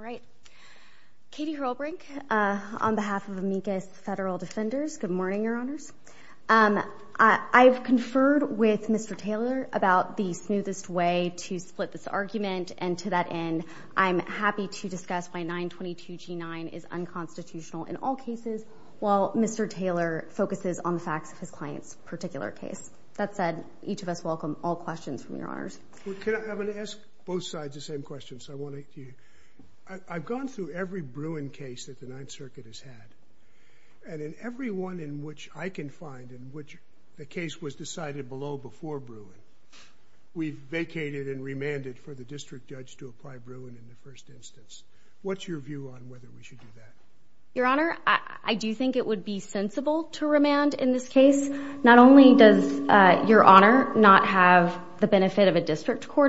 All right. Katie Hrolbrink, on behalf of Amicus Federal Defenders, good morning, Your Honors. I've conferred with Mr. Taylor about the smoothest way to split this argument, and to that end, I'm happy to discuss why 922G9 is unconstitutional in all cases, while Mr. Taylor focuses on the facts of his client's particular case. That said, each of us welcome all questions from Your Honors. I'm going to ask both sides the same question. I've gone through every Bruin case that the Ninth Circuit has had, and in every one in which I can find in which the case was decided below before Bruin, we've vacated and remanded for the district judge to apply Bruin in the first instance. What's your view on whether we should do that? Your Honor, I do think it would be sensible to remand in this case. Not only does Your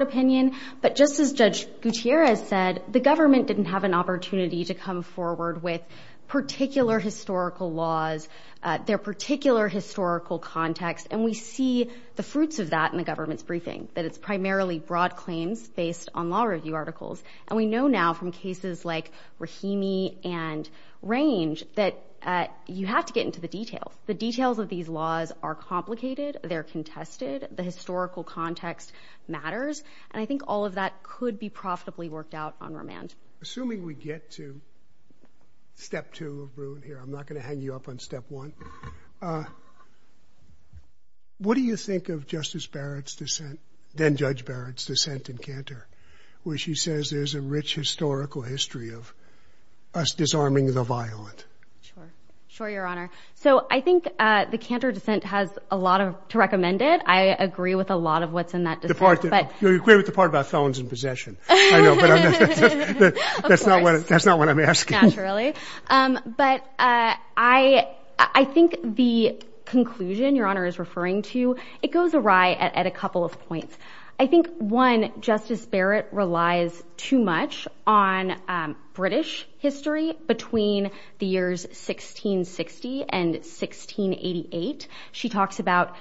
opinion, but just as Judge Gutierrez said, the government didn't have an opportunity to come forward with particular historical laws, their particular historical context, and we see the fruits of that in the government's briefing, that it's primarily broad claims based on law review articles. And we know now from cases like Rahimi and Range that you have to get into the details. The details of these laws are complicated, they're contested, the historical context matters, and I think all of that could be profitably worked out on remand. Assuming we get to step two of Bruin here, I'm not going to hang you up on step one. What do you think of Justice Barrett's dissent, then Judge Barrett's dissent in Cantor, where she says there's a rich historical history of us disarming the violent? Sure, Your Honor. So I think the Cantor dissent has a lot to recommend it. I agree with a lot of what's in that dissent. You're agreeing with the part about felons in possession. I know, but that's not what I'm asking. Naturally. But I think the conclusion Your Honor is referring to, it goes awry at a couple of points. I think one, Justice Barrett relies too much on British history between the years 1660 and 1688. She talks about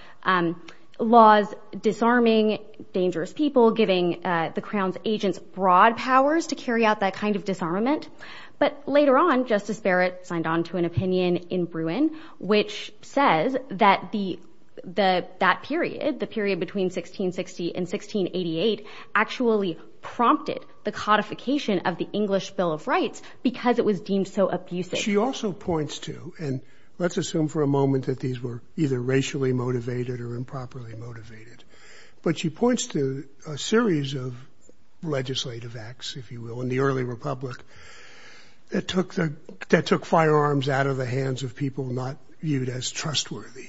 laws disarming dangerous people, giving the Crown's agents broad powers to carry out that kind of disarmament. But later on, Justice Barrett signed on to an opinion in Bruin, which says that that period, the period between 1660 and 1688 actually prompted the codification of the English Bill of Rights because it was deemed so abusive. She also points to, and let's assume for a moment that these were either racially motivated or improperly motivated, but she points to a series of legislative acts, if you will, in the early Republic that took the, that took firearms out of the hands of people not viewed as trustworthy,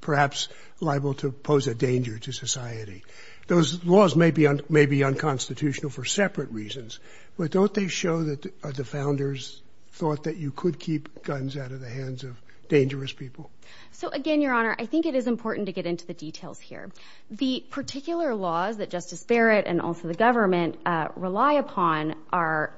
perhaps liable to pose a danger to society. Those laws may be unconstitutional for separate reasons, but don't they show that the founders thought that you could keep guns out of the hands of dangerous people? So again, Your Honor, I think it is important to get into the details here. The particular laws that Justice Barrett and also the government rely upon are,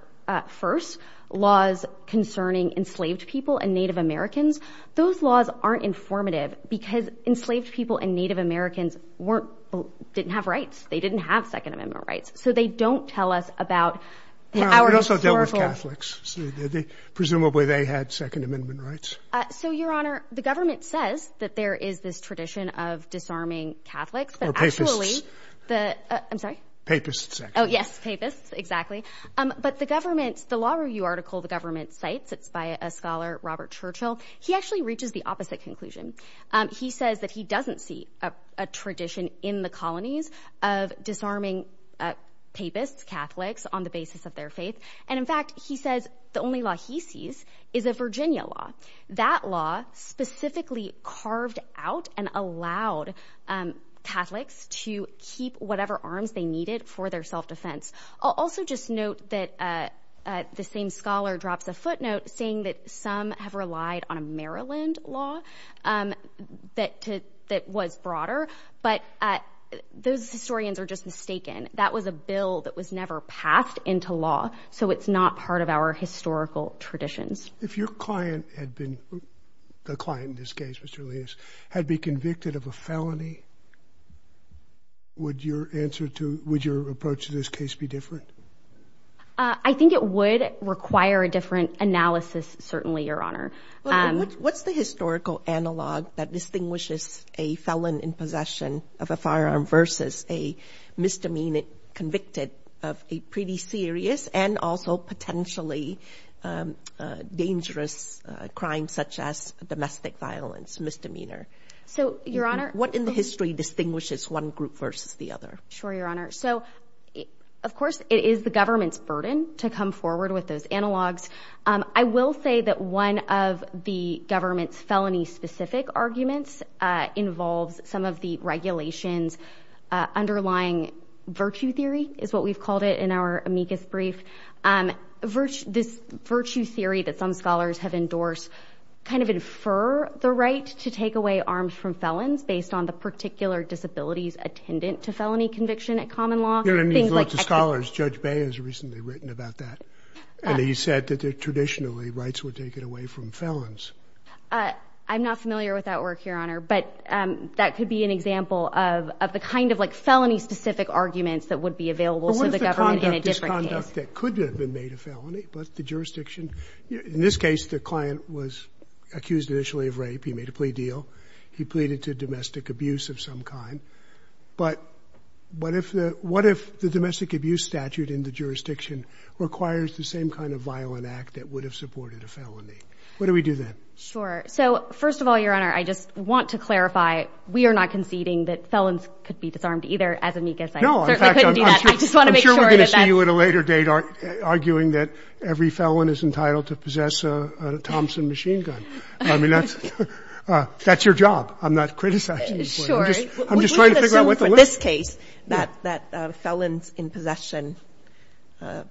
first, laws concerning enslaved people and Native Americans. Those laws aren't informative because enslaved people and Native Americans weren't, didn't have rights. They didn't have Second Amendment rights. So they don't tell us about our historical... They also dealt with Catholics. Presumably they had Second Amendment rights. So Your Honor, the government says that there is this tradition of disarming Catholics that actually... Papists. I'm sorry? Papists, actually. Oh yes, Papists, exactly. But the government, the law review article the government cites, it's by a scholar, Robert Churchill, he actually reaches the opposite conclusion. He says that he doesn't see a tradition in the colonies of disarming Papists, Catholics, on the basis of their faith. And in fact, he says the only law he sees is a Virginia law. That law specifically carved out and allowed Catholics to keep whatever arms they needed for their self-defense. I'll also just note that the same scholar drops a footnote saying that some have relied on a Maryland law that was broader, but those historians are just mistaken. That was a bill that was never passed into law, so it's not part of our historical traditions. If your client had been, the client in this case was Julius, had been convicted of a felony, would your answer to, would your approach to this case be different? I think it would require a different analysis, certainly, Your Honor. What's the historical analog that distinguishes a felon in possession of a firearm versus a misdemeanor convicted of a pretty serious and also potentially dangerous crime? Such as domestic violence, misdemeanor. So, Your Honor. What in the history distinguishes one group versus the other? Sure, Your Honor. So, of course, it is the government's burden to come forward with those analogs. I will say that one of the government's felony-specific arguments involves some of the regulations underlying virtue theory, is what we've called it in our amicus brief. And this virtue theory that some scholars have endorsed kind of infer the right to take away arms from felons based on the particular disabilities attendant to felony conviction at common law. You've looked at scholars. Judge Bay has recently written about that, and he said that traditionally rights were taken away from felons. I'm not familiar with that work, Your Honor, but that could be an example of the kind of felony-specific arguments that would be available to the government in a different case. In fact, that could have been made a felony, but the jurisdiction, in this case, the client was accused initially of rape. He made a plea deal. He pleaded to domestic abuse of some kind. But what if the domestic abuse statute in the jurisdiction requires the same kind of violent act that would have supported a felony? What do we do then? Sure. So, first of all, Your Honor, I just want to clarify, we are not conceding that felons could be disarmed either, as amicus says. No, in fact, I'm sure we're going to see you at a later date on that. I'm not arguing that every felon is entitled to possess a Thompson machine gun. I mean, that's your job. I'm not criticizing the court. Sure. I'm just trying to figure out what the limits are. We can assume for this case that felons in possession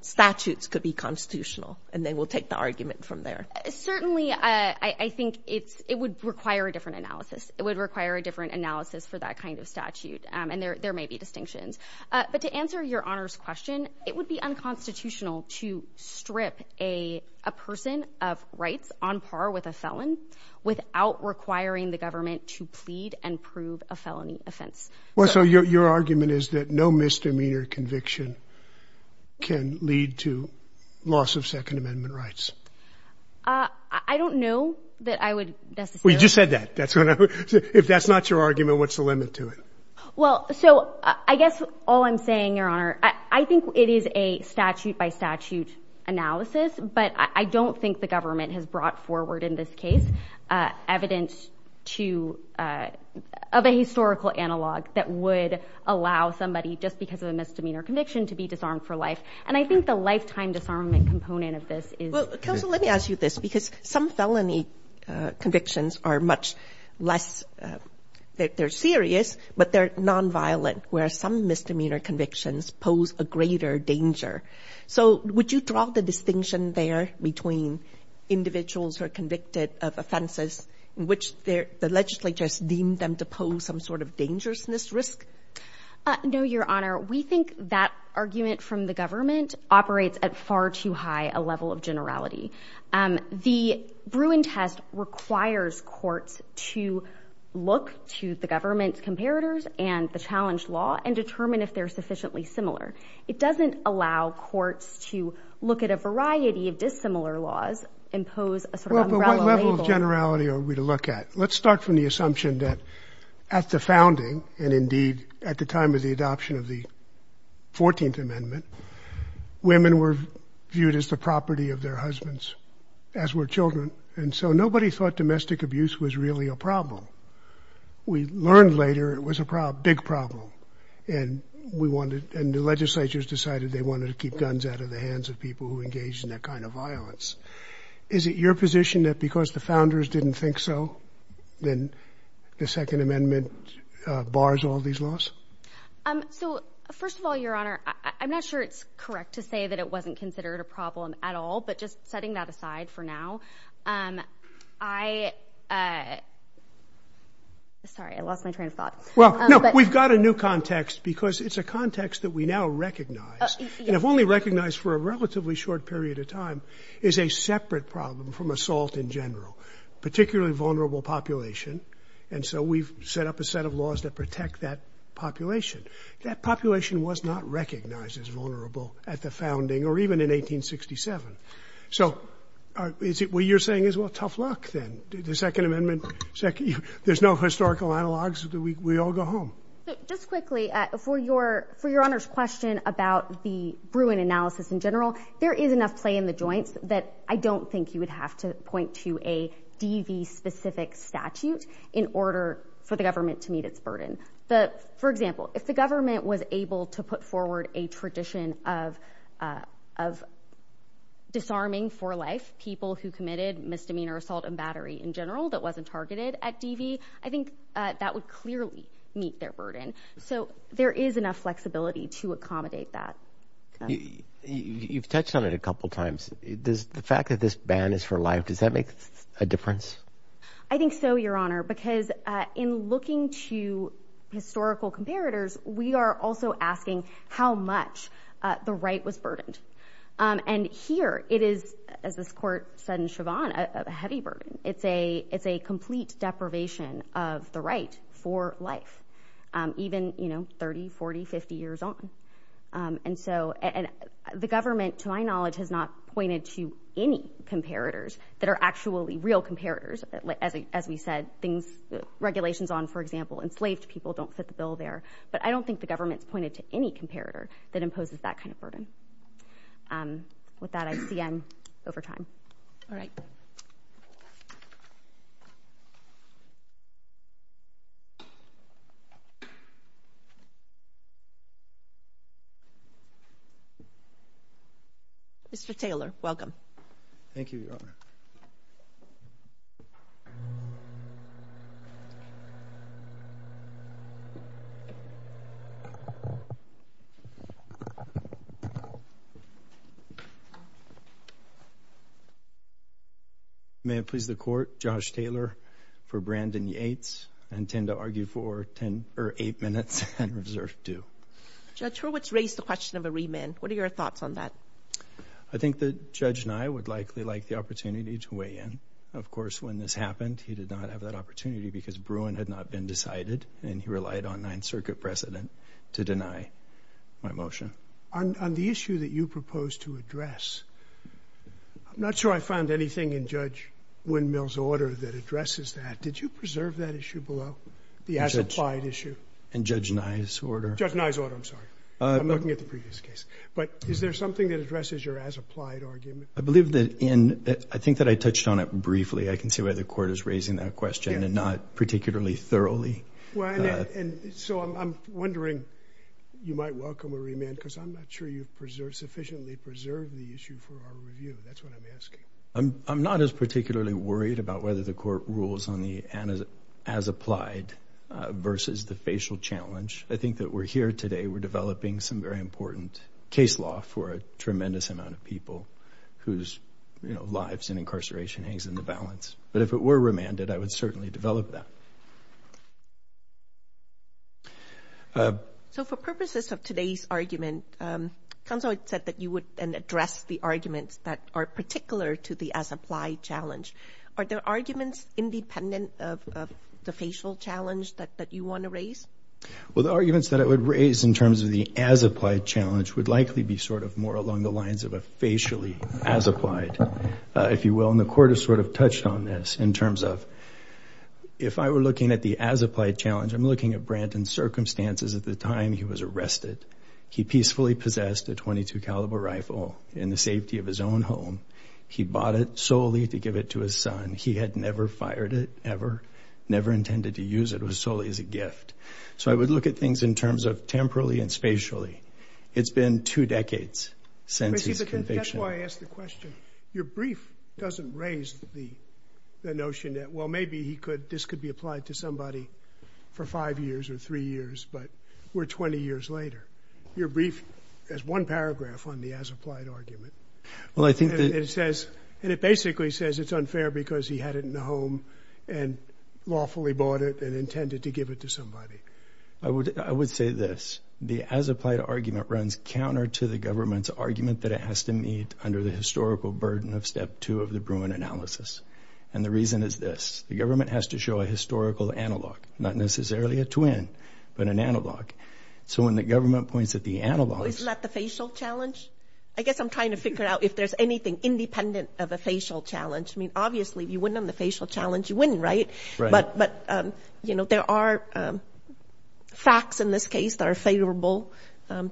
statutes could be constitutional, and then we'll take the argument from there. Certainly, I think it would require a different analysis. It would require a different analysis for that kind of statute, and there may be distinctions. But to answer Your Honor's question, it would be unconstitutional to strip a person of rights on par with a felon without requiring the government to plead and prove a felony offense. So, your argument is that no misdemeanor conviction can lead to loss of Second Amendment rights? I don't know that I would necessarily... Well, you just said that. If that's not your argument, what's the limit to it? Well, so I guess all I'm saying, Your Honor, I think it is a statute-by-statute analysis, but I don't think the government has brought forward in this case evidence of a historical analog that would allow somebody, just because of a misdemeanor conviction, to be disarmed for life. And I think the lifetime disarmament component of this is... Well, counsel, let me ask you this, because some felony convictions are much less... But they're nonviolent, whereas some misdemeanor convictions pose a greater danger. So, would you draw the distinction there between individuals who are convicted of offenses in which the legislature has deemed them to pose some sort of dangerousness risk? No, Your Honor. We think that argument from the government operates at far too high a level of generality. The Bruin test requires courts to look to the government's comparators and the challenged law and determine if they're sufficiently similar. It doesn't allow courts to look at a variety of dissimilar laws, impose a sort of umbrella label... Well, but what level of generality are we to look at? Let's start from the assumption that at the founding, and indeed at the time of the adoption of the 14th Amendment, women were viewed as the property of their husbands, as were children. And so nobody thought domestic abuse was really a problem. We learned later it was a big problem. And the legislature has decided they wanted to keep guns out of the hands of people who engaged in that kind of violence. Is it your position that because the founders didn't think so, then the Second Amendment bars all these laws? So, first of all, Your Honor, I'm not sure it's correct to say that it wasn't considered a problem at all, but just setting that aside for now, I... Sorry, I lost my train of thought. Well, no, we've got a new context because it's a context that we now recognize, and have only recognized for a relatively short period of time, is a separate problem from assault in general, particularly vulnerable population. And so we've set up a set of laws that protect that population. That population was not recognized as vulnerable at the founding, or even in 1867. So, what you're saying is, well, tough luck then. The Second Amendment, there's no historical analogues, we all go home. Just quickly, for Your Honor's question about the Bruin analysis in general, there is enough play in the joints that I don't think you would have to point to a DV-specific statute in order for the government to meet its burden. But, for example, if the government was able to put forward a tradition of disarming for life people who committed misdemeanor assault and battery in general that wasn't targeted at DV, I think that would clearly meet their burden. So, there is enough flexibility to accommodate that. You've touched on it a couple times. Does the fact that this ban is for life, does that make a difference? I think so, Your Honor, because in looking to historical comparators, we are also asking how much the right was burdened. And here, it is, as this court said in Chauvin, a heavy burden. It's a complete deprivation of the right for life, even, you know, 30, 40, 50 years on. And so, the government, to my knowledge, has not pointed to any comparators that are actually real comparators. As we said, things, regulations on, for example, enslaved people don't fit the bill there. But I don't think the government's pointed to any comparator that imposes that kind of burden. With that, I see end over time. All right. Mr. Taylor, welcome. Thank you, Your Honor. May it please the court, Josh Taylor for Brandon Yates. I intend to argue for eight minutes and reserve two. Judge Hurwitz raised the question of a remand. What are your thoughts on that? I think that Judge Nye would likely like the opportunity to weigh in. Of course, when this happened, he did not have that opportunity because Bruin had not been decided, and he relied on Ninth Circuit precedent to deny my motion. On the issue that you proposed to address, I'm not sure I found anything in Judge Windmill's order that addresses that. Did you preserve that issue below, the as-applied issue? In Judge Nye's order? Judge Nye's order, I'm sorry. I'm looking at the previous case. But is there something that addresses your as-applied argument? I believe that in—I think that I touched on it briefly. I can see why the court is raising that question and not particularly thoroughly. And so I'm wondering, you might welcome a remand, because I'm not sure you've sufficiently preserved the issue for our review. That's what I'm asking. I'm not as particularly worried about whether the court rules on the as-applied versus the facial challenge. I think that we're here today, we're developing some very important case law for a tremendous amount of people whose lives and incarceration hangs in the balance. But if it were remanded, I would certainly develop that. So for purposes of today's argument, counsel had said that you would address the arguments that are particular to the as-applied challenge. Are the arguments independent of the facial challenge that you want to raise? Well, the arguments that I would raise in terms of the as-applied challenge would likely be sort of more along the lines of a facially as-applied, if you will. And the court has sort of touched on this in terms of if I were looking at the as-applied challenge, I'm looking at Branton's circumstances at the time he was arrested. He peacefully possessed a .22-caliber rifle in the safety of his own home. He bought it solely to give it to his son. He had never fired it, ever, never intended to use it. It was solely as a gift. So I would look at things in terms of temporally and spatially. It's been two decades since his conviction. That's why I asked the question. Your brief doesn't raise the notion that, well, maybe this could be applied to somebody for five years or three years, but we're 20 years later. Your brief has one paragraph on the as-applied argument. And it basically says it's unfair because he had it in the home and lawfully bought it and intended to give it to somebody. I would say this. The as-applied argument runs counter to the government's argument that it has to meet under the historical burden of Step 2 of the Bruin analysis. And the reason is this. The government has to show a historical analog, not necessarily a twin, but an analog. So when the government points at the analogs... Isn't that the facial challenge? I guess I'm trying to figure out if there's anything independent of a facial challenge. I mean, obviously, if you win on the facial challenge, you win, right? Right. But, you know, there are facts in this case that are favorable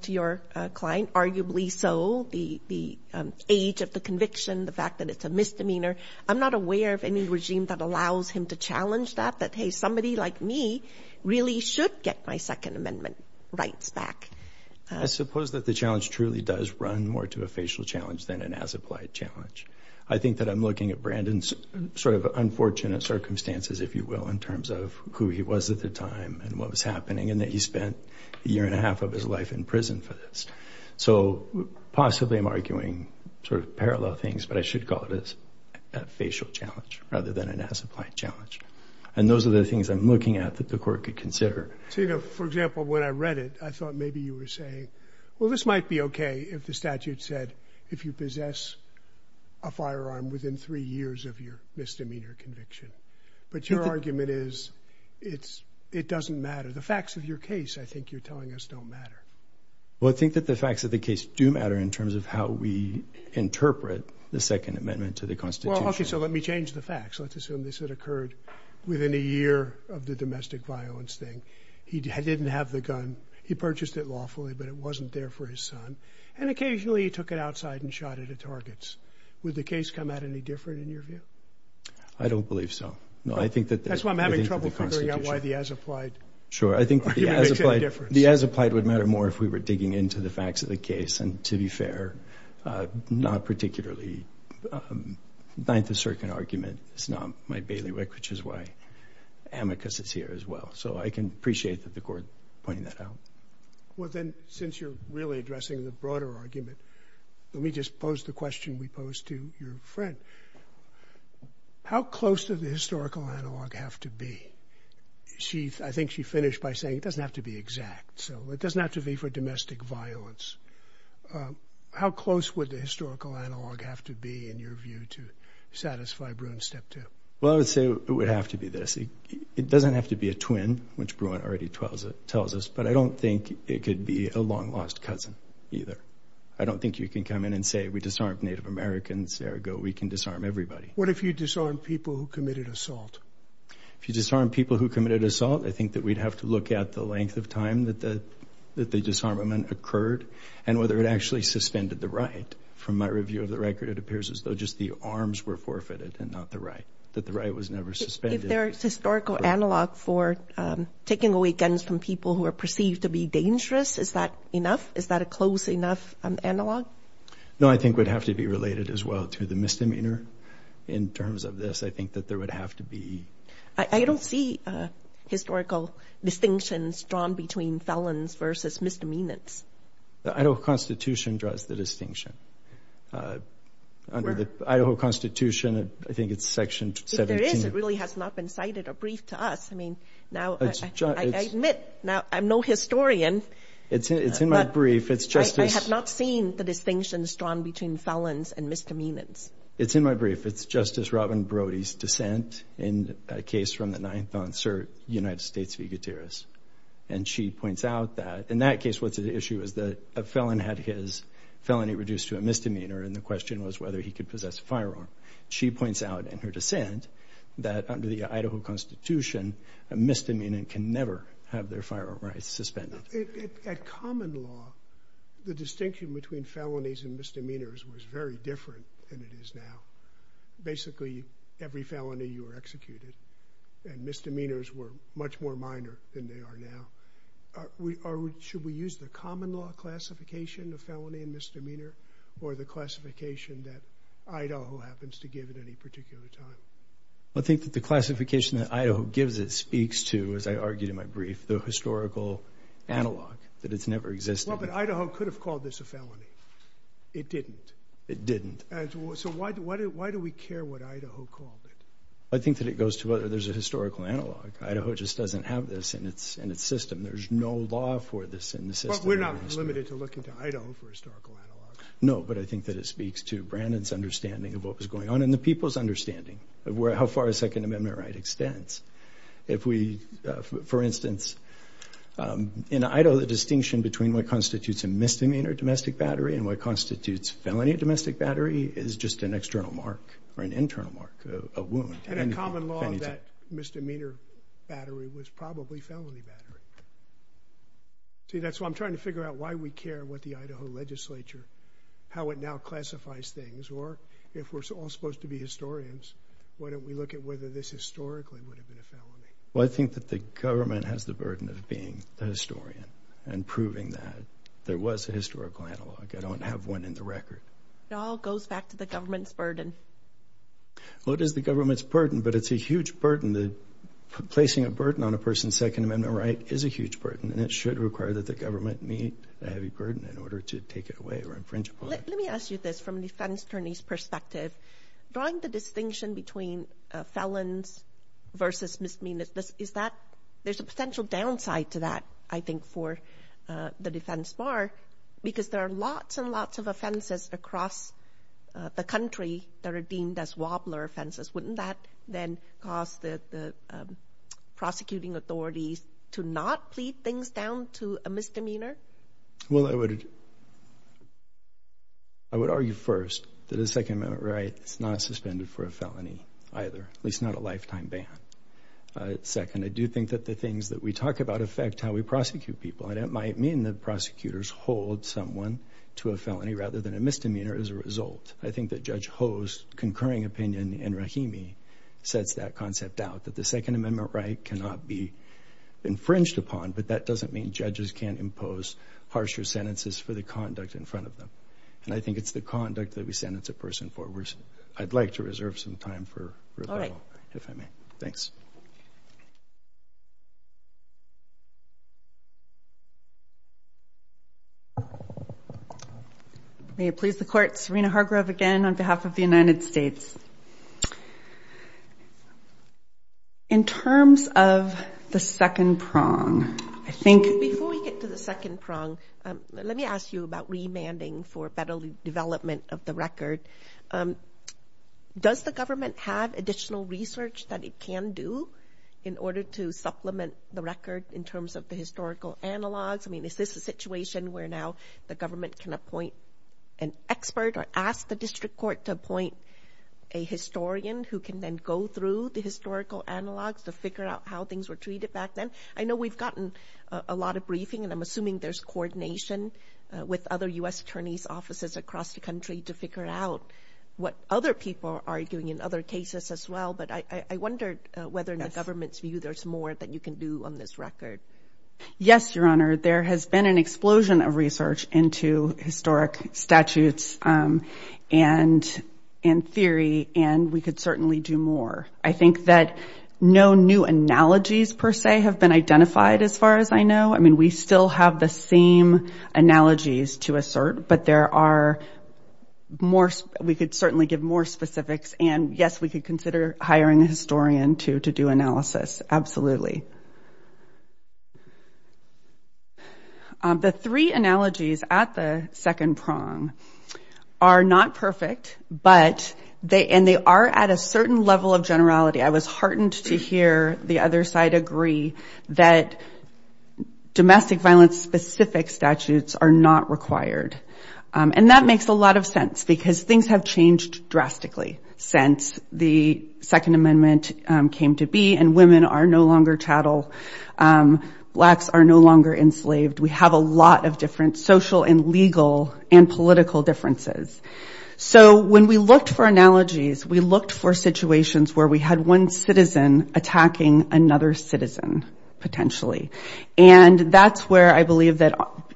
to your client, arguably so the age of the conviction, the fact that it's a misdemeanor. I'm not aware of any regime that allows him to challenge that, that, hey, somebody like me really should get my Second Amendment rights back. I suppose that the challenge truly does run more to a facial challenge than an as-applied challenge. I think that I'm looking at Brandon's sort of unfortunate circumstances, if you will, in terms of who he was at the time and what was happening and that he spent a year and a half of his life in prison for this. So possibly I'm arguing sort of parallel things, but I should call it a facial challenge rather than an as-applied challenge. And those are the things I'm looking at that the court could consider. So, you know, for example, when I read it, I thought maybe you were saying, well, this might be okay if the statute said if you possess a firearm within three years of your misdemeanor conviction. But your argument is it doesn't matter. The facts of your case, I think you're telling us, don't matter. Well, I think that the facts of the case do matter in terms of how we interpret the Second Amendment to the Constitution. Well, okay, so let me change the facts. Let's assume this had occurred within a year of the domestic violence thing. He didn't have the gun. He purchased it lawfully, but it wasn't there for his son. And occasionally he took it outside and shot at the targets. Would the case come out any different in your view? I don't believe so. That's why I'm having trouble figuring out why the as-applied argument makes that difference. The as-applied would matter more if we were digging into the facts of the case. And to be fair, not particularly. The Ninth Circuit argument is not my bailiwick, which is why Amicus is here as well. So I can appreciate that the court pointing that out. Well, then, since you're really addressing the broader argument, let me just pose the question we posed to your friend. How close did the historical analog have to be? I think she finished by saying it doesn't have to be exact. So it doesn't have to be for domestic violence. How close would the historical analog have to be, in your view, to satisfy Bruin Step 2? Well, I would say it would have to be this. It doesn't have to be a twin, which Bruin already tells us, but I don't think it could be a long-lost cousin either. I don't think you can come in and say we disarmed Native Americans, ergo we can disarm everybody. What if you disarmed people who committed assault? If you disarmed people who committed assault, I think that we'd have to look at the length of time that the disarmament occurred and whether it actually suspended the right. From my review of the record, it appears as though just the arms were forfeited and not the right, that the right was never suspended. If there is historical analog for taking away guns from people who are perceived to be dangerous, is that enough? Is that a close enough analog? No, I think it would have to be related as well to the misdemeanor. In terms of this, I think that there would have to be... I don't see historical distinctions drawn between felons versus misdemeanors. The Idaho Constitution draws the distinction. Under the Idaho Constitution, I think it's Section 17. If there is, it really has not been cited or briefed to us. I mean, now I admit I'm no historian. It's in my brief. I have not seen the distinctions drawn between felons and misdemeanors. It's in my brief. It's Justice Robin Brody's dissent in a case from the ninth on cert, United States v. Gutierrez. And she points out that in that case what's at issue is that a felon had his felony reduced to a misdemeanor and the question was whether he could possess a firearm. She points out in her dissent that under the Idaho Constitution, a misdemeanor can never have their firearm rights suspended. At common law, the distinction between felonies and misdemeanors was very different than it is now. Basically, every felony you were executed and misdemeanors were much more minor than they are now. Should we use the common law classification of felony and misdemeanor or the classification that Idaho happens to give at any particular time? I think that the classification that Idaho gives it speaks to, as I argued in my brief, the historical analog, that it's never existed. Well, but Idaho could have called this a felony. It didn't. It didn't. So why do we care what Idaho called it? I think that it goes to whether there's a historical analog. Idaho just doesn't have this in its system. There's no law for this in the system. But we're not limited to looking to Idaho for historical analogs. No, but I think that it speaks to Brandon's understanding of what was going on and the people's understanding of how far a Second Amendment right extends. For instance, in Idaho, the distinction between what constitutes a misdemeanor domestic battery and what constitutes felony domestic battery is just an external mark or an internal mark, a wound. And a common law that misdemeanor battery was probably felony battery. See, that's why I'm trying to figure out why we care what the Idaho legislature, how it now classifies things, or if we're all supposed to be historians, why don't we look at whether this historically would have been a felony? Well, I think that the government has the burden of being the historian and proving that there was a historical analog. I don't have one in the record. It all goes back to the government's burden. Well, it is the government's burden, but it's a huge burden. Placing a burden on a person's Second Amendment right is a huge burden, and it should require that the government meet the heavy burden in order to take it away or infringe upon it. Let me ask you this from a defense attorney's perspective. Drawing the distinction between felons versus misdemeanors, there's a potential downside to that, I think, for the defense bar because there are lots and lots of offenses across the country that are deemed as wobbler offenses. Wouldn't that then cause the prosecuting authorities to not plead things down to a misdemeanor? Well, I would argue first that a Second Amendment right is not suspended for a felony either, at least not a lifetime ban. Second, I do think that the things that we talk about affect how we prosecute people, and it might mean that prosecutors hold someone to a felony rather than a misdemeanor as a result. I think that Judge Ho's concurring opinion in Rahimi sets that concept out, that the Second Amendment right cannot be infringed upon, but that doesn't mean judges can't impose harsher sentences for the conduct in front of them. And I think it's the conduct that we sentence a person for. I'd like to reserve some time for rebuttal, if I may. Thanks. May it please the Court, Serena Hargrove again on behalf of the United States. In terms of the second prong, I think— Before we get to the second prong, let me ask you about remanding for better development of the record. Does the government have additional research that it can do in order to supplement the record in terms of the historical analogs? I mean, is this a situation where now the government can appoint an expert or ask the district court to appoint a historian who can then go through the historical analogs to figure out how things were treated back then? I know we've gotten a lot of briefing, and I'm assuming there's coordination with other U.S. attorneys' offices across the country to figure out what other people are doing in other cases as well, but I wondered whether in the government's view there's more that you can do on this record. Yes, Your Honor, there has been an explosion of research into historic statutes and theory, and we could certainly do more. I think that no new analogies, per se, have been identified as far as I know. I mean, we still have the same analogies to assert, but there are more— we could certainly give more specifics, and yes, we could consider hiring a historian to do analysis, absolutely. The three analogies at the second prong are not perfect, and they are at a certain level of generality. I was heartened to hear the other side agree that domestic violence-specific statutes are not required, and that makes a lot of sense because things have changed drastically since the Second Amendment came to be, and women are no longer chattel, blacks are no longer enslaved. We have a lot of different social and legal and political differences. So when we looked for analogies, we looked for situations where we had one citizen attacking another citizen, potentially, and that's where I believe that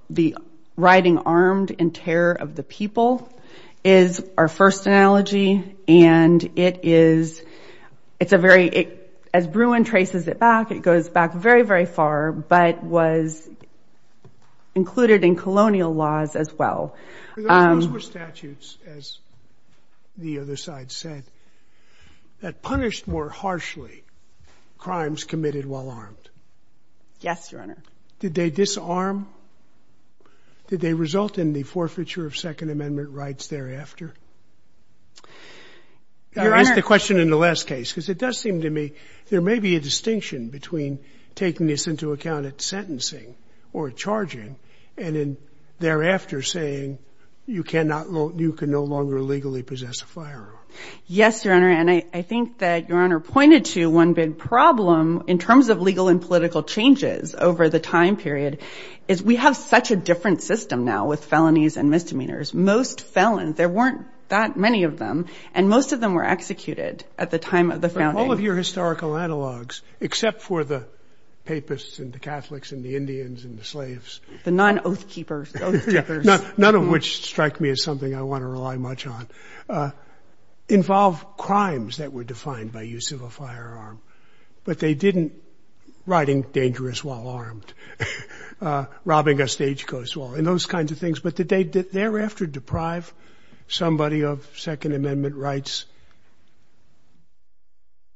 the writing Armed in Terror of the People is our first analogy, and it is—it's a very—as Bruin traces it back, it goes back very, very far, but was included in colonial laws as well. Those were statutes, as the other side said, that punished more harshly crimes committed while armed. Yes, Your Honor. Did they disarm? Did they result in the forfeiture of Second Amendment rights thereafter? Your Honor— You asked the question in the last case, because it does seem to me there may be a distinction between taking this into account at sentencing or at charging, and then thereafter saying you cannot—you can no longer legally possess a firearm. Yes, Your Honor, and I think that Your Honor pointed to one big problem in terms of legal and political changes over the time period, is we have such a different system now with felonies and misdemeanors. Most felons, there weren't that many of them, and most of them were executed at the time of the founding. All of your historical analogs, except for the papists and the Catholics and the Indians and the slaves— The non-oath keepers. None of which strike me as something I want to rely much on, involve crimes that were defined by use of a firearm, but they didn't—riding dangerous while armed, robbing a stagecoach while—and those kinds of things. But did they thereafter deprive somebody of Second Amendment rights,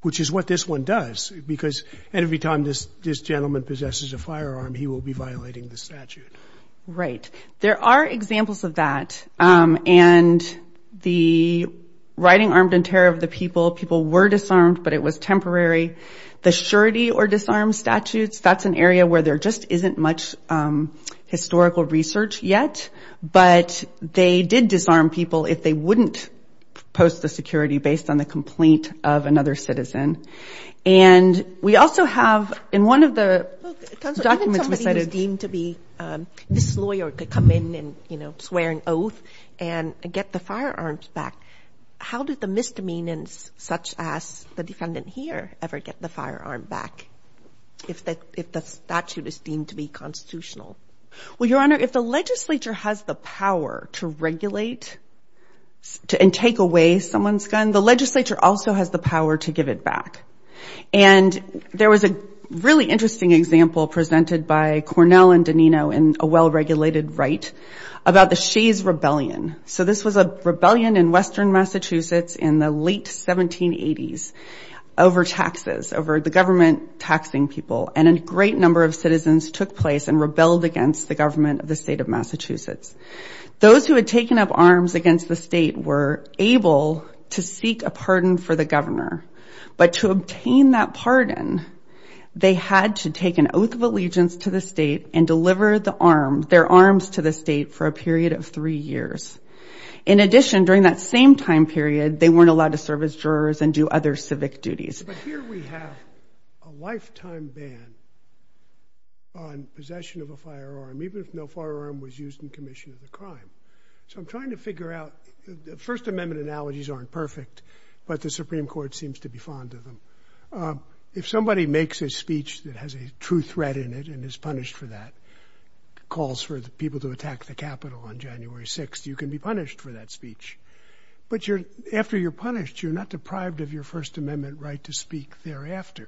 which is what this one does, because every time this gentleman possesses a firearm, he will be violating the statute. Right. There are examples of that, and the riding armed in terror of the people, people were disarmed, but it was temporary. The surety or disarmed statutes, that's an area where there just isn't much historical research yet, but they did disarm people if they wouldn't post the security based on the complaint of another citizen. And we also have, in one of the documents we cited— Even somebody who's deemed to be this lawyer could come in and, you know, swear an oath and get the firearms back. How did the misdemeanors such as the defendant here ever get the firearm back, if the statute is deemed to be constitutional? Well, Your Honor, if the legislature has the power to regulate and take away someone's gun, the legislature also has the power to give it back. And there was a really interesting example presented by Cornell and DeNino in a well-regulated right about the Shays' Rebellion. So this was a rebellion in western Massachusetts in the late 1780s over taxes, over the government taxing people. And a great number of citizens took place and rebelled against the government of the state of Massachusetts. Those who had taken up arms against the state were able to seek a pardon for the governor. But to obtain that pardon, they had to take an oath of allegiance to the state and deliver their arms to the state for a period of three years. In addition, during that same time period, they weren't allowed to serve as jurors and do other civic duties. But here we have a lifetime ban on possession of a firearm, even if no firearm was used in commission of the crime. So I'm trying to figure out, the First Amendment analogies aren't perfect, but the Supreme Court seems to be fond of them. If somebody makes a speech that has a true threat in it and is punished for that, calls for the people to attack the Capitol on January 6th, you can be punished for that speech. But after you're punished, you're not deprived of your First Amendment right to speak thereafter.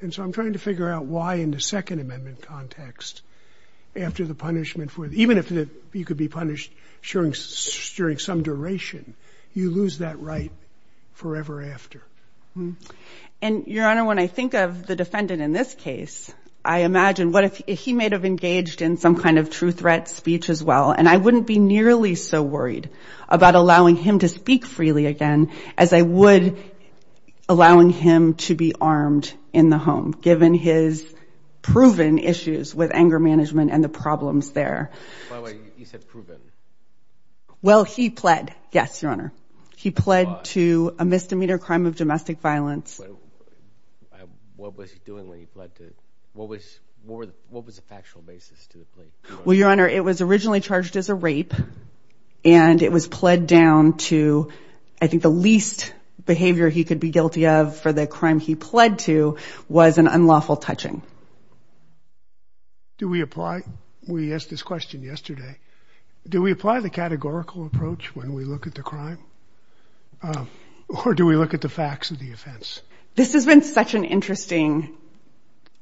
And so I'm trying to figure out why in the Second Amendment context, after the punishment, even if you could be punished during some duration, you lose that right forever after. And, Your Honor, when I think of the defendant in this case, I imagine what if he may have engaged in some kind of true threat speech as well, and I wouldn't be nearly so worried about allowing him to speak freely again as I would allowing him to be armed in the home, given his proven issues with anger management and the problems there. By the way, you said proven. Well, he pled. Yes, Your Honor. He pled to a misdemeanor crime of domestic violence. What was he doing when he pled to it? What was the factual basis to the plea? Well, Your Honor, it was originally charged as a rape, and it was pled down to, I think, the least behavior he could be guilty of for the crime he pled to was an unlawful touching. Do we apply? We asked this question yesterday. Do we apply the categorical approach when we look at the crime, or do we look at the facts of the offense? This has been such an interesting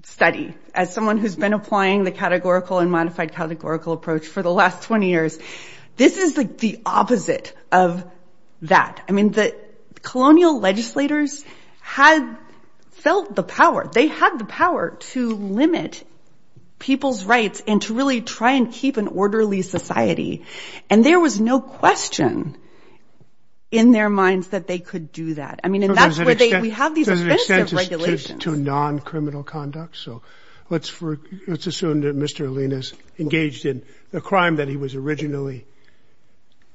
study. As someone who's been applying the categorical and modified categorical approach for the last 20 years, this is the opposite of that. I mean, the colonial legislators had felt the power. They had the power to limit people's rights and to really try and keep an orderly society, and there was no question in their minds that they could do that. I mean, and that's where we have these offensive regulations. To a non-criminal conduct. So let's assume that Mr. Alinas engaged in the crime that he was originally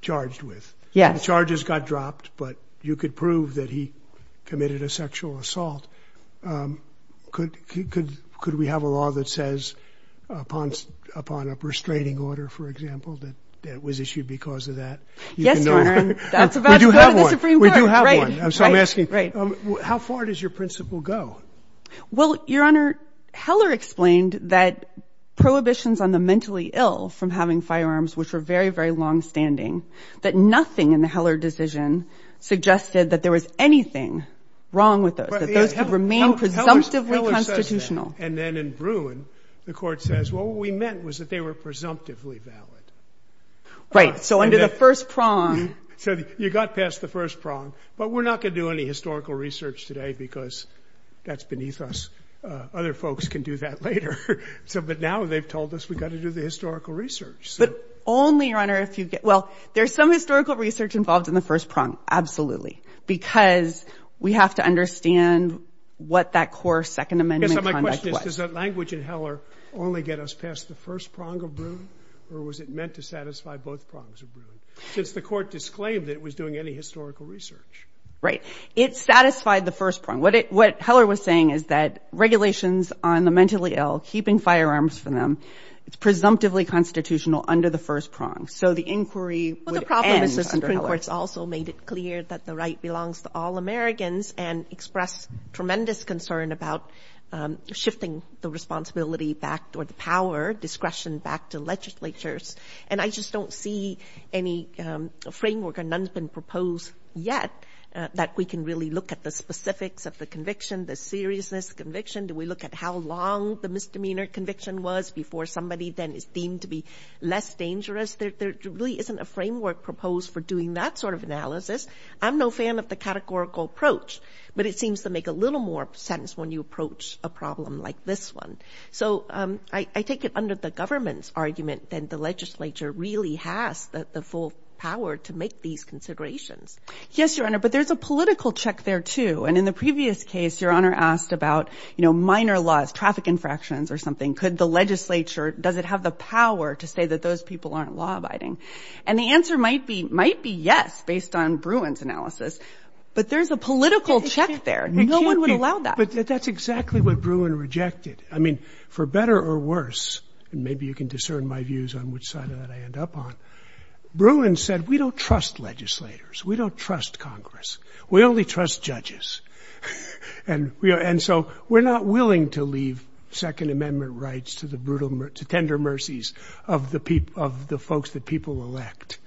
charged with. Yes. The charges got dropped, but you could prove that he committed a sexual assault. Could we have a law that says, upon a restraining order, for example, that was issued because of that? Yes, Your Honor. We do have one. So I'm asking, how far does your principle go? Well, Your Honor, Heller explained that prohibitions on the mentally ill from having firearms, which were very, very longstanding, that nothing in the Heller decision suggested that there was anything wrong with those, that those could remain presumptively constitutional. And then in Bruin, the court says, well, what we meant was that they were presumptively valid. Right. So under the first prong. So you got past the first prong, but we're not going to do any historical research today because that's beneath us. Other folks can do that later. But now they've told us we've got to do the historical research. But only, Your Honor, if you get, well, there's some historical research involved in the first prong. Absolutely. Because we have to understand what that core Second Amendment conduct was. Does that language in Heller only get us past the first prong of Bruin? Or was it meant to satisfy both prongs of Bruin? Since the court disclaimed that it was doing any historical research. Right. It satisfied the first prong. What Heller was saying is that regulations on the mentally ill, keeping firearms from them, it's presumptively constitutional under the first prong. So the inquiry would end under Heller. But the problem is the Supreme Court's also made it clear that the right belongs to all Americans and expressed tremendous concern about shifting the responsibility back or the power, discretion back to legislatures. And I just don't see any framework, and none has been proposed yet, that we can really look at the specifics of the conviction, the seriousness of the conviction. Do we look at how long the misdemeanor conviction was before somebody then is deemed to be less dangerous? I'm no fan of the categorical approach, but it seems to make a little more sense when you approach a problem like this one. So I take it under the government's argument that the legislature really has the full power to make these considerations. Yes, Your Honor, but there's a political check there too. And in the previous case, Your Honor asked about, you know, minor laws, traffic infractions or something. Could the legislature, does it have the power to say that those people aren't law-abiding? And the answer might be yes, based on Bruin's analysis. But there's a political check there. No one would allow that. But that's exactly what Bruin rejected. I mean, for better or worse, and maybe you can discern my views on which side of that I end up on, Bruin said, we don't trust legislators. We don't trust Congress. We only trust judges. And so we're not willing to leave Second Amendment rights to the tender mercies of the folks that people elect.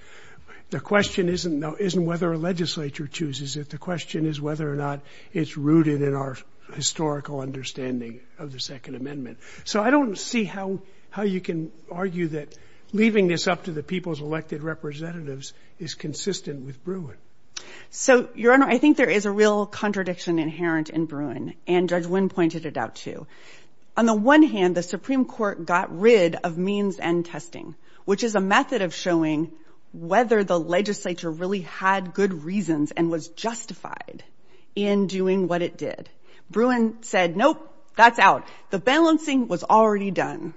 The question isn't whether a legislature chooses it. The question is whether or not it's rooted in our historical understanding of the Second Amendment. So I don't see how you can argue that leaving this up to the people's elected representatives is consistent with Bruin. So, Your Honor, I think there is a real contradiction inherent in Bruin, and Judge Wynn pointed it out too. On the one hand, the Supreme Court got rid of means and testing, which is a method of showing whether the legislature really had good reasons and was justified in doing what it did. Bruin said, nope, that's out. The balancing was already done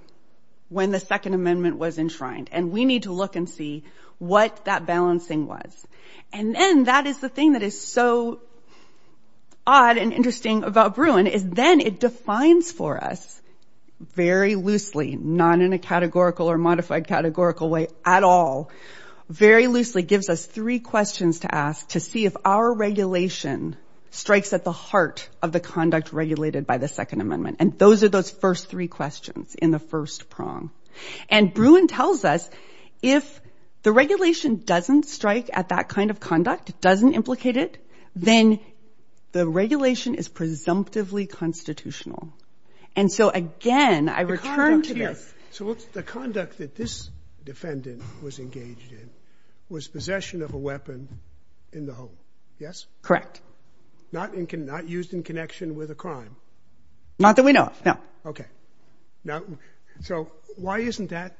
when the Second Amendment was enshrined, and we need to look and see what that balancing was. And then that is the thing that is so odd and interesting about Bruin, is then it defines for us very loosely, not in a categorical or modified categorical way at all, very loosely gives us three questions to ask to see if our regulation strikes at the heart of the conduct regulated by the Second Amendment. And those are those first three questions in the first prong. And Bruin tells us if the regulation doesn't strike at that kind of conduct, doesn't implicate it, then the regulation is presumptively constitutional. And so, again, I return to this. So the conduct that this defendant was engaged in was possession of a weapon in the home, yes? Correct. Not used in connection with a crime? Not that we know of, no. Okay. Now, so why isn't that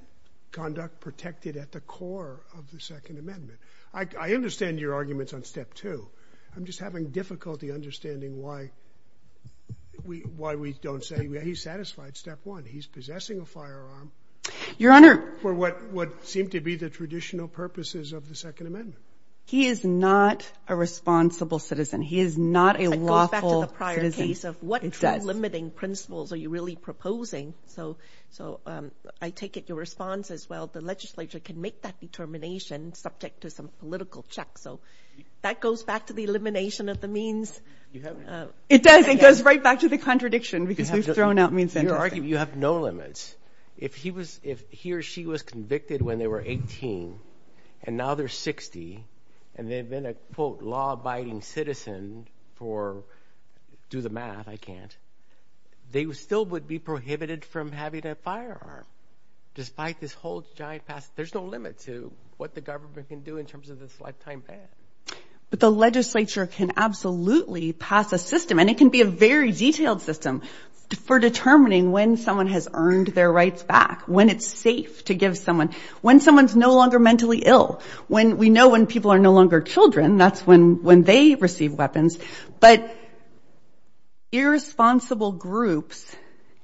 conduct protected at the core of the Second Amendment? I understand your arguments on Step 2. I'm just having difficulty understanding why we don't say he's satisfied. Step 1, he's possessing a firearm. Your Honor. For what seemed to be the traditional purposes of the Second Amendment. He is not a responsible citizen. He is not a lawful citizen. It goes back to the prior case of what true limiting principles are you really proposing? So I take it your response is, well, the legislature can make that determination subject to some political check. So that goes back to the elimination of the means. It does. It goes right back to the contradiction because we've thrown out means. You have no limits. If he or she was convicted when they were 18 and now they're 60 and they've been a, quote, law-abiding citizen for, do the math, I can't, they still would be prohibited from having a firearm despite this whole giant pass, there's no limit to what the government can do in terms of this lifetime ban. But the legislature can absolutely pass a system, and it can be a very detailed system, for determining when someone has earned their rights back, when it's safe to give someone, when someone's no longer mentally ill, when we know when people are no longer children, that's when they receive weapons. But irresponsible groups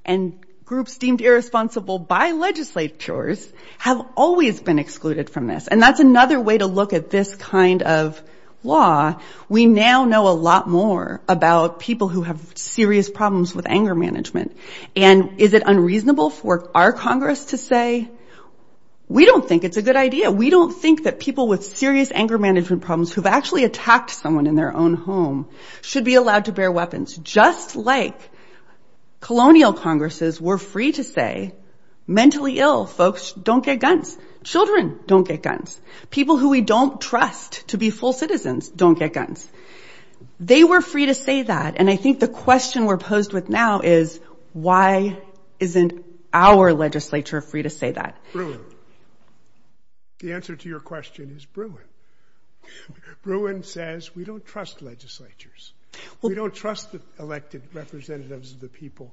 and groups deemed irresponsible by legislatures have always been excluded from this. And that's another way to look at this kind of law. We now know a lot more about people who have serious problems with anger management. And is it unreasonable for our Congress to say, we don't think it's a good idea, we don't think that people with serious anger management problems who have actually attacked someone in their own home, should be allowed to bear weapons, just like colonial Congresses were free to say, mentally ill folks don't get guns, children don't get guns, people who we don't trust to be full citizens don't get guns. They were free to say that, and I think the question we're posed with now is, why isn't our legislature free to say that? The answer to your question is Bruin. Bruin says we don't trust legislatures. We don't trust elected representatives of the people.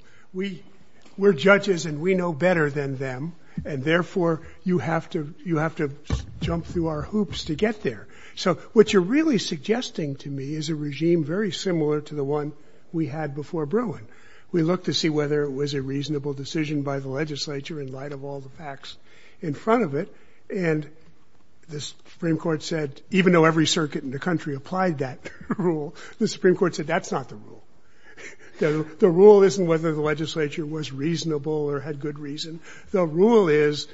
We're judges and we know better than them, and therefore you have to jump through our hoops to get there. So what you're really suggesting to me is a regime very similar to the one we had before Bruin. We looked to see whether it was a reasonable decision by the legislature in light of all the facts in front of it, and the Supreme Court said, even though every circuit in the country applied that rule, the Supreme Court said that's not the rule. The rule isn't whether the legislature was reasonable or had good reason. The rule is,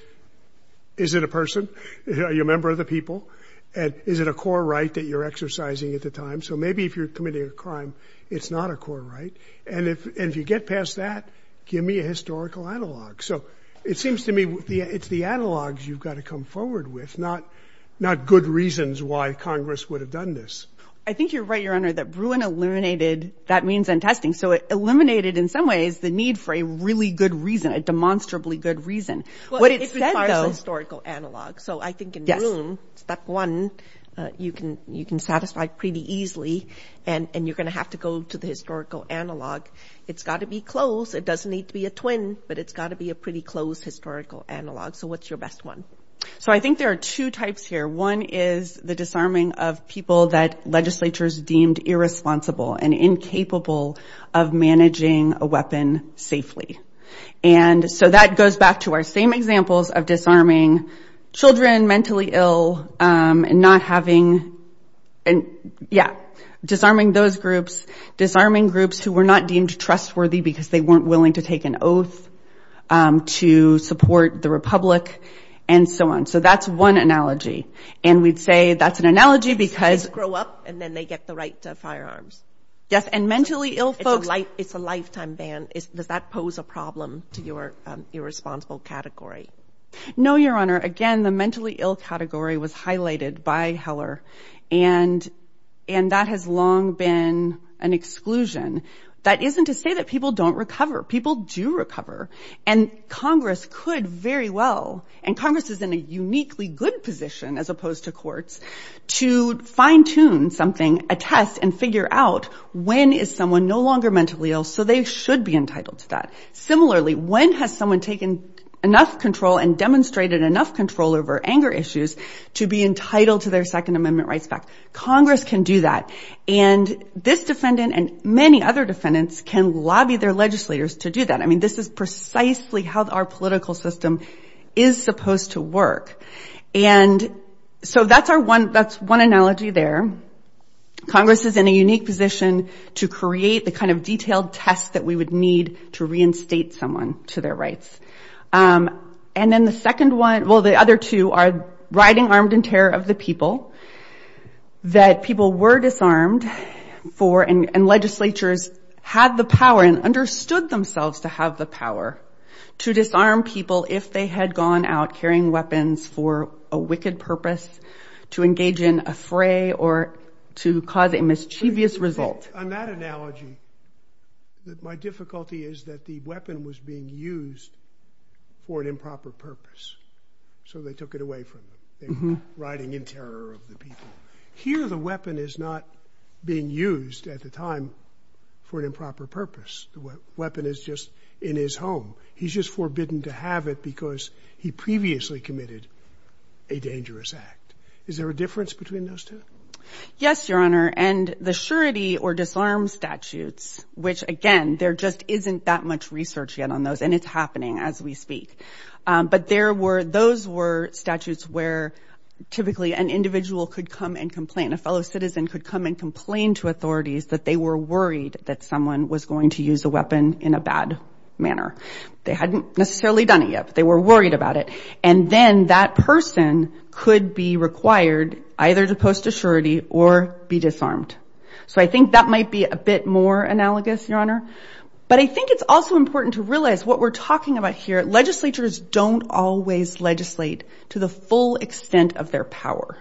is it a person? Are you a member of the people? Is it a core right that you're exercising at the time? So maybe if you're committing a crime, it's not a core right, and if you get past that, give me a historical analog. So it seems to me it's the analogs you've got to come forward with, not good reasons why Congress would have done this. I think you're right, Your Honor, that Bruin eliminated that means and testing, so it eliminated in some ways the need for a really good reason, a demonstrably good reason. Well, it requires a historical analog. So I think in Bruin, step one, you can satisfy pretty easily, and you're going to have to go to the historical analog. It's got to be close. It doesn't need to be a twin, but it's got to be a pretty close historical analog. So what's your best one? So I think there are two types here. One is the disarming of people that legislatures deemed irresponsible and incapable of managing a weapon safely. And so that goes back to our same examples of disarming children mentally ill and not having and, yeah, disarming those groups, disarming groups who were not deemed trustworthy because they weren't willing to take an oath to support the republic and so on. So that's one analogy. And we'd say that's an analogy because they grow up and then they get the right firearms. Yes, and mentally ill folks. It's a lifetime ban. Does that pose a problem to your irresponsible category? Again, the mentally ill category was highlighted by Heller, and that has long been an exclusion. That isn't to say that people don't recover. People do recover, and Congress could very well, and Congress is in a uniquely good position as opposed to courts, to fine-tune something, a test, and figure out when is someone no longer mentally ill so they should be entitled to that. Similarly, when has someone taken enough control and demonstrated enough control over anger issues to be entitled to their Second Amendment rights back? Congress can do that. And this defendant and many other defendants can lobby their legislators to do that. I mean, this is precisely how our political system is supposed to work. And so that's one analogy there. Congress is in a unique position to create the kind of detailed test that we would need to reinstate someone to their rights. And then the second one, well, the other two, are riding armed in terror of the people, that people were disarmed for, and legislatures had the power and understood themselves to have the power to disarm people if they had gone out carrying weapons for a wicked purpose, to engage in a fray or to cause a mischievous result. On that analogy, my difficulty is that the weapon was being used for an improper purpose, so they took it away from them. They were riding in terror of the people. Here the weapon is not being used at the time for an improper purpose. The weapon is just in his home. He's just forbidden to have it because he previously committed a dangerous act. Is there a difference between those two? Yes, Your Honor, and the surety or disarm statutes, which, again, there just isn't that much research yet on those, and it's happening as we speak. But those were statutes where typically an individual could come and complain, a fellow citizen could come and complain to authorities that they were worried that someone was going to use a weapon in a bad manner. They hadn't necessarily done it yet, but they were worried about it. And then that person could be required either to post a surety or be disarmed. So I think that might be a bit more analogous, Your Honor. But I think it's also important to realize what we're talking about here. Legislatures don't always legislate to the full extent of their power.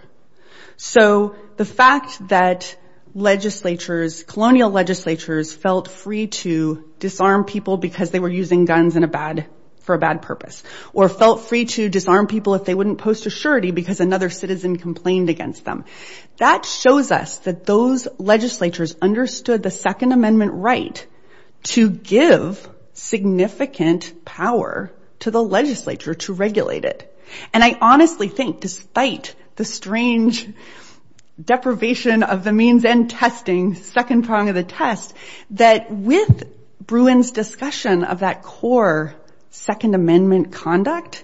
So the fact that legislatures, colonial legislatures, felt free to disarm people because they were using guns for a bad purpose or felt free to disarm people if they wouldn't post a surety because another citizen complained against them, that shows us that those legislatures understood the Second Amendment right to give significant power to the legislature to regulate it. And I honestly think, despite the strange deprivation of the means and testing, second prong of the test, that with Bruin's discussion of that core Second Amendment conduct,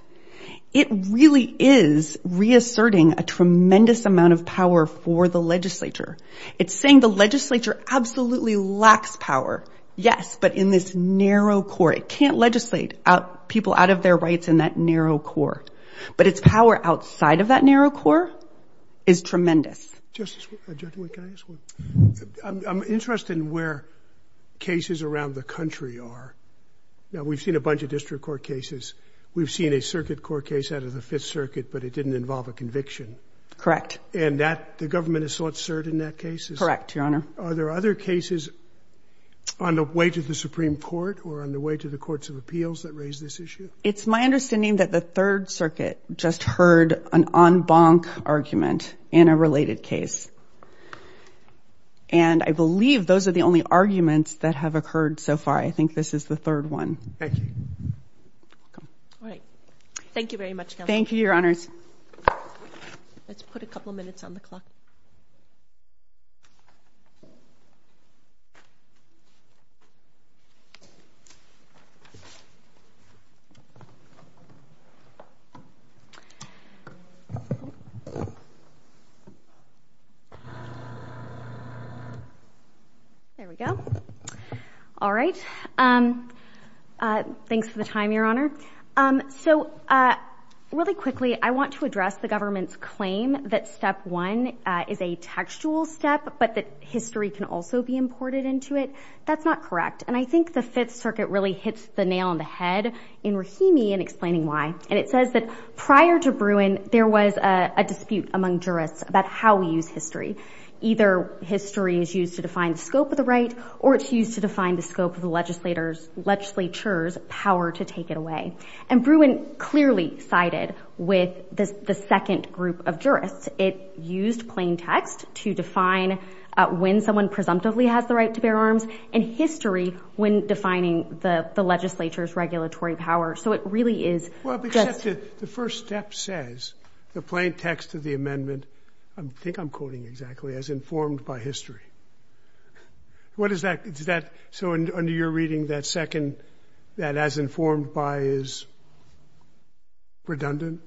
it really is reasserting a tremendous amount of power for the legislature. It's saying the legislature absolutely lacks power, yes, but in this narrow core. It can't legislate people out of their rights in that narrow core. But its power outside of that narrow core is tremendous. I'm interested in where cases around the country are. Now, we've seen a bunch of district court cases. We've seen a circuit court case out of the Fifth Circuit, but it didn't involve a conviction. Correct. And the government has sought cert in that case? Correct, Your Honor. Are there other cases on the way to the Supreme Court or on the way to the courts of appeals that raise this issue? It's my understanding that the Third Circuit just heard an en banc argument in a related case. And I believe those are the only arguments that have occurred so far. I think this is the third one. Thank you. All right. Thank you very much, Kelly. Thank you, Your Honors. Let's put a couple minutes on the clock. There we go. All right. Thanks for the time, Your Honor. So really quickly, I want to address the government's claim that step one is a textual step, but that history can also be imported into it. That's not correct. And I think the Fifth Circuit really hits the nail on the head in Rahimi in explaining why. And it says that prior to Bruin, there was a dispute among jurists about how we use history. Either history is used to define the scope of the right or it's used to define the scope of the legislature's power to take it away. And Bruin clearly sided with the second group of jurists. It used plain text to define when someone presumptively has the right to bear arms and history when defining the legislature's regulatory power. So it really is just... Well, except the first step says, the plain text of the amendment, I think I'm quoting exactly, as informed by history. What is that? So under your reading, that second, that as informed by is redundant?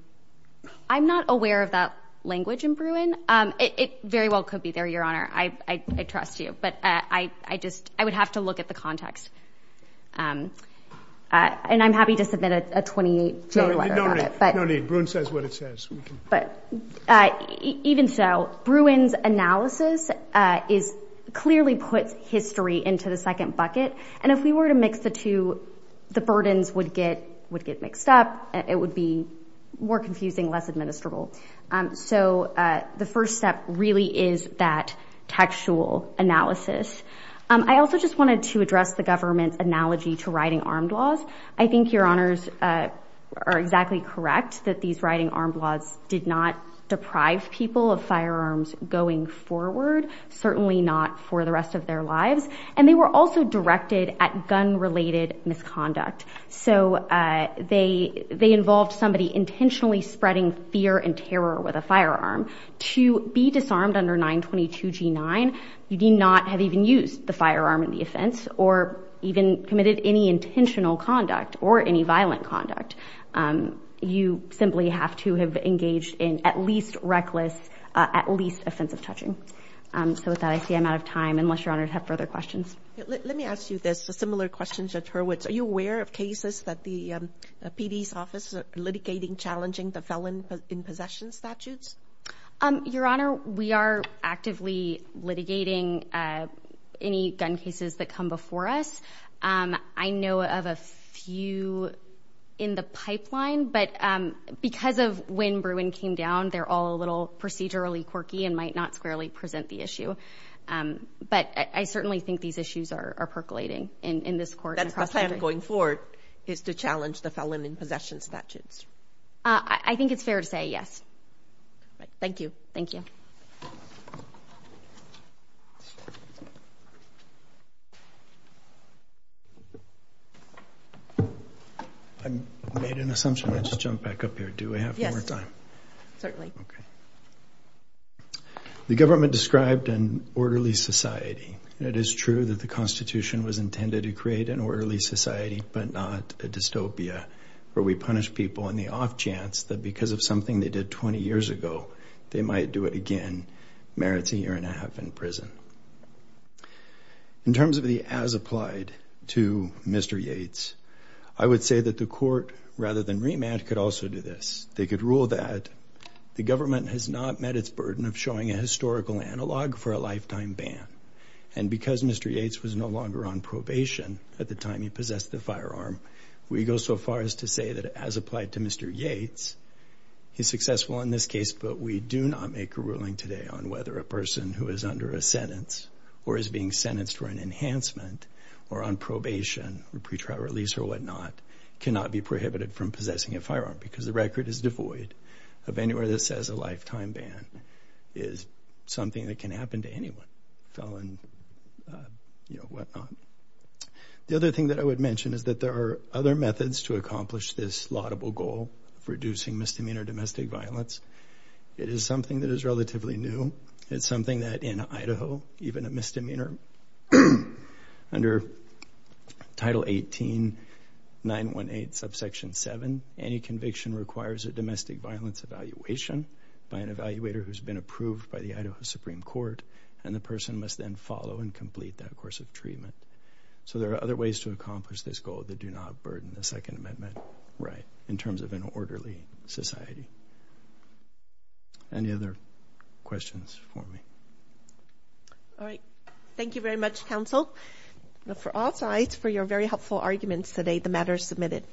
I'm not aware of that language in Bruin. It very well could be there, Your Honour. I trust you. But I would have to look at the context. And I'm happy to submit a 28-page letter about it. No need. Bruin says what it says. But even so, Bruin's analysis clearly puts history into the second bucket. And if we were to mix the two, the burdens would get mixed up. It would be more confusing, less administrable. So the first step really is that textual analysis. I also just wanted to address the government's analogy to riding armed laws. I think Your Honours are exactly correct that these riding armed laws did not deprive people of firearms going forward, certainly not for the rest of their lives. And they were also directed at gun-related misconduct. So they involved somebody intentionally spreading fear and terror with a firearm. To be disarmed under 922 G9, you do not have even used the firearm in the offence or even committed any intentional conduct or any violent conduct. You simply have to have engaged in at least reckless, at least offensive touching. So with that, I see I'm out of time, unless Your Honours have further questions. Let me ask you this, a similar question, Judge Hurwitz. Are you aware of cases that the PD's office are litigating challenging the felon in possession statutes? Your Honour, we are actively litigating any gun cases that come before us. I know of a few in the pipeline, but because of when Bruin came down, they're all a little procedurally quirky and might not squarely present the issue. But I certainly think these issues are percolating in this court and across the country. That's the plan going forward, is to challenge the felon in possession statutes. I think it's fair to say, yes. Thank you. Thank you. I made an assumption. I just jumped back up here. Do I have more time? Yes. Certainly. Okay. The government described an orderly society. It is true that the Constitution was intended to create an orderly society, but not a dystopia where we punish people in the off chance that because of something they did 20 years ago, they might do it again. Merit's a year and a half in prison. In terms of the as applied to Mr. Yates, I would say that the court, rather than remand, could also do this. They could rule that the government has not met its burden of showing a historical analog for a lifetime ban. And because Mr. Yates was no longer on probation at the time he possessed the firearm, we go so far as to say that as applied to Mr. Yates, he's successful in this case, but we do not make a ruling today on whether a person who is under a sentence or is being sentenced for an enhancement or on probation or pre-trial release or whatnot cannot be prohibited from possessing a firearm because the record is devoid of anywhere that says a lifetime ban is something that can happen to anyone, felon, you know, whatnot. The other thing that I would mention is that there are other methods to accomplish this laudable goal of reducing misdemeanor domestic violence. It is something that is relatively new. It's something that in Idaho, even a misdemeanor under Title 18, 918 subsection 7, any conviction requires a domestic violence evaluation by an evaluator who's been approved by the Idaho Supreme Court, and the person must then follow and complete that course of treatment. So there are other ways to accomplish this goal that do not burden the Second Amendment right in terms of an orderly society. Any other questions for me? All right. Thank you very much, counsel, for all sides, for your very helpful arguments today. The matter is submitted.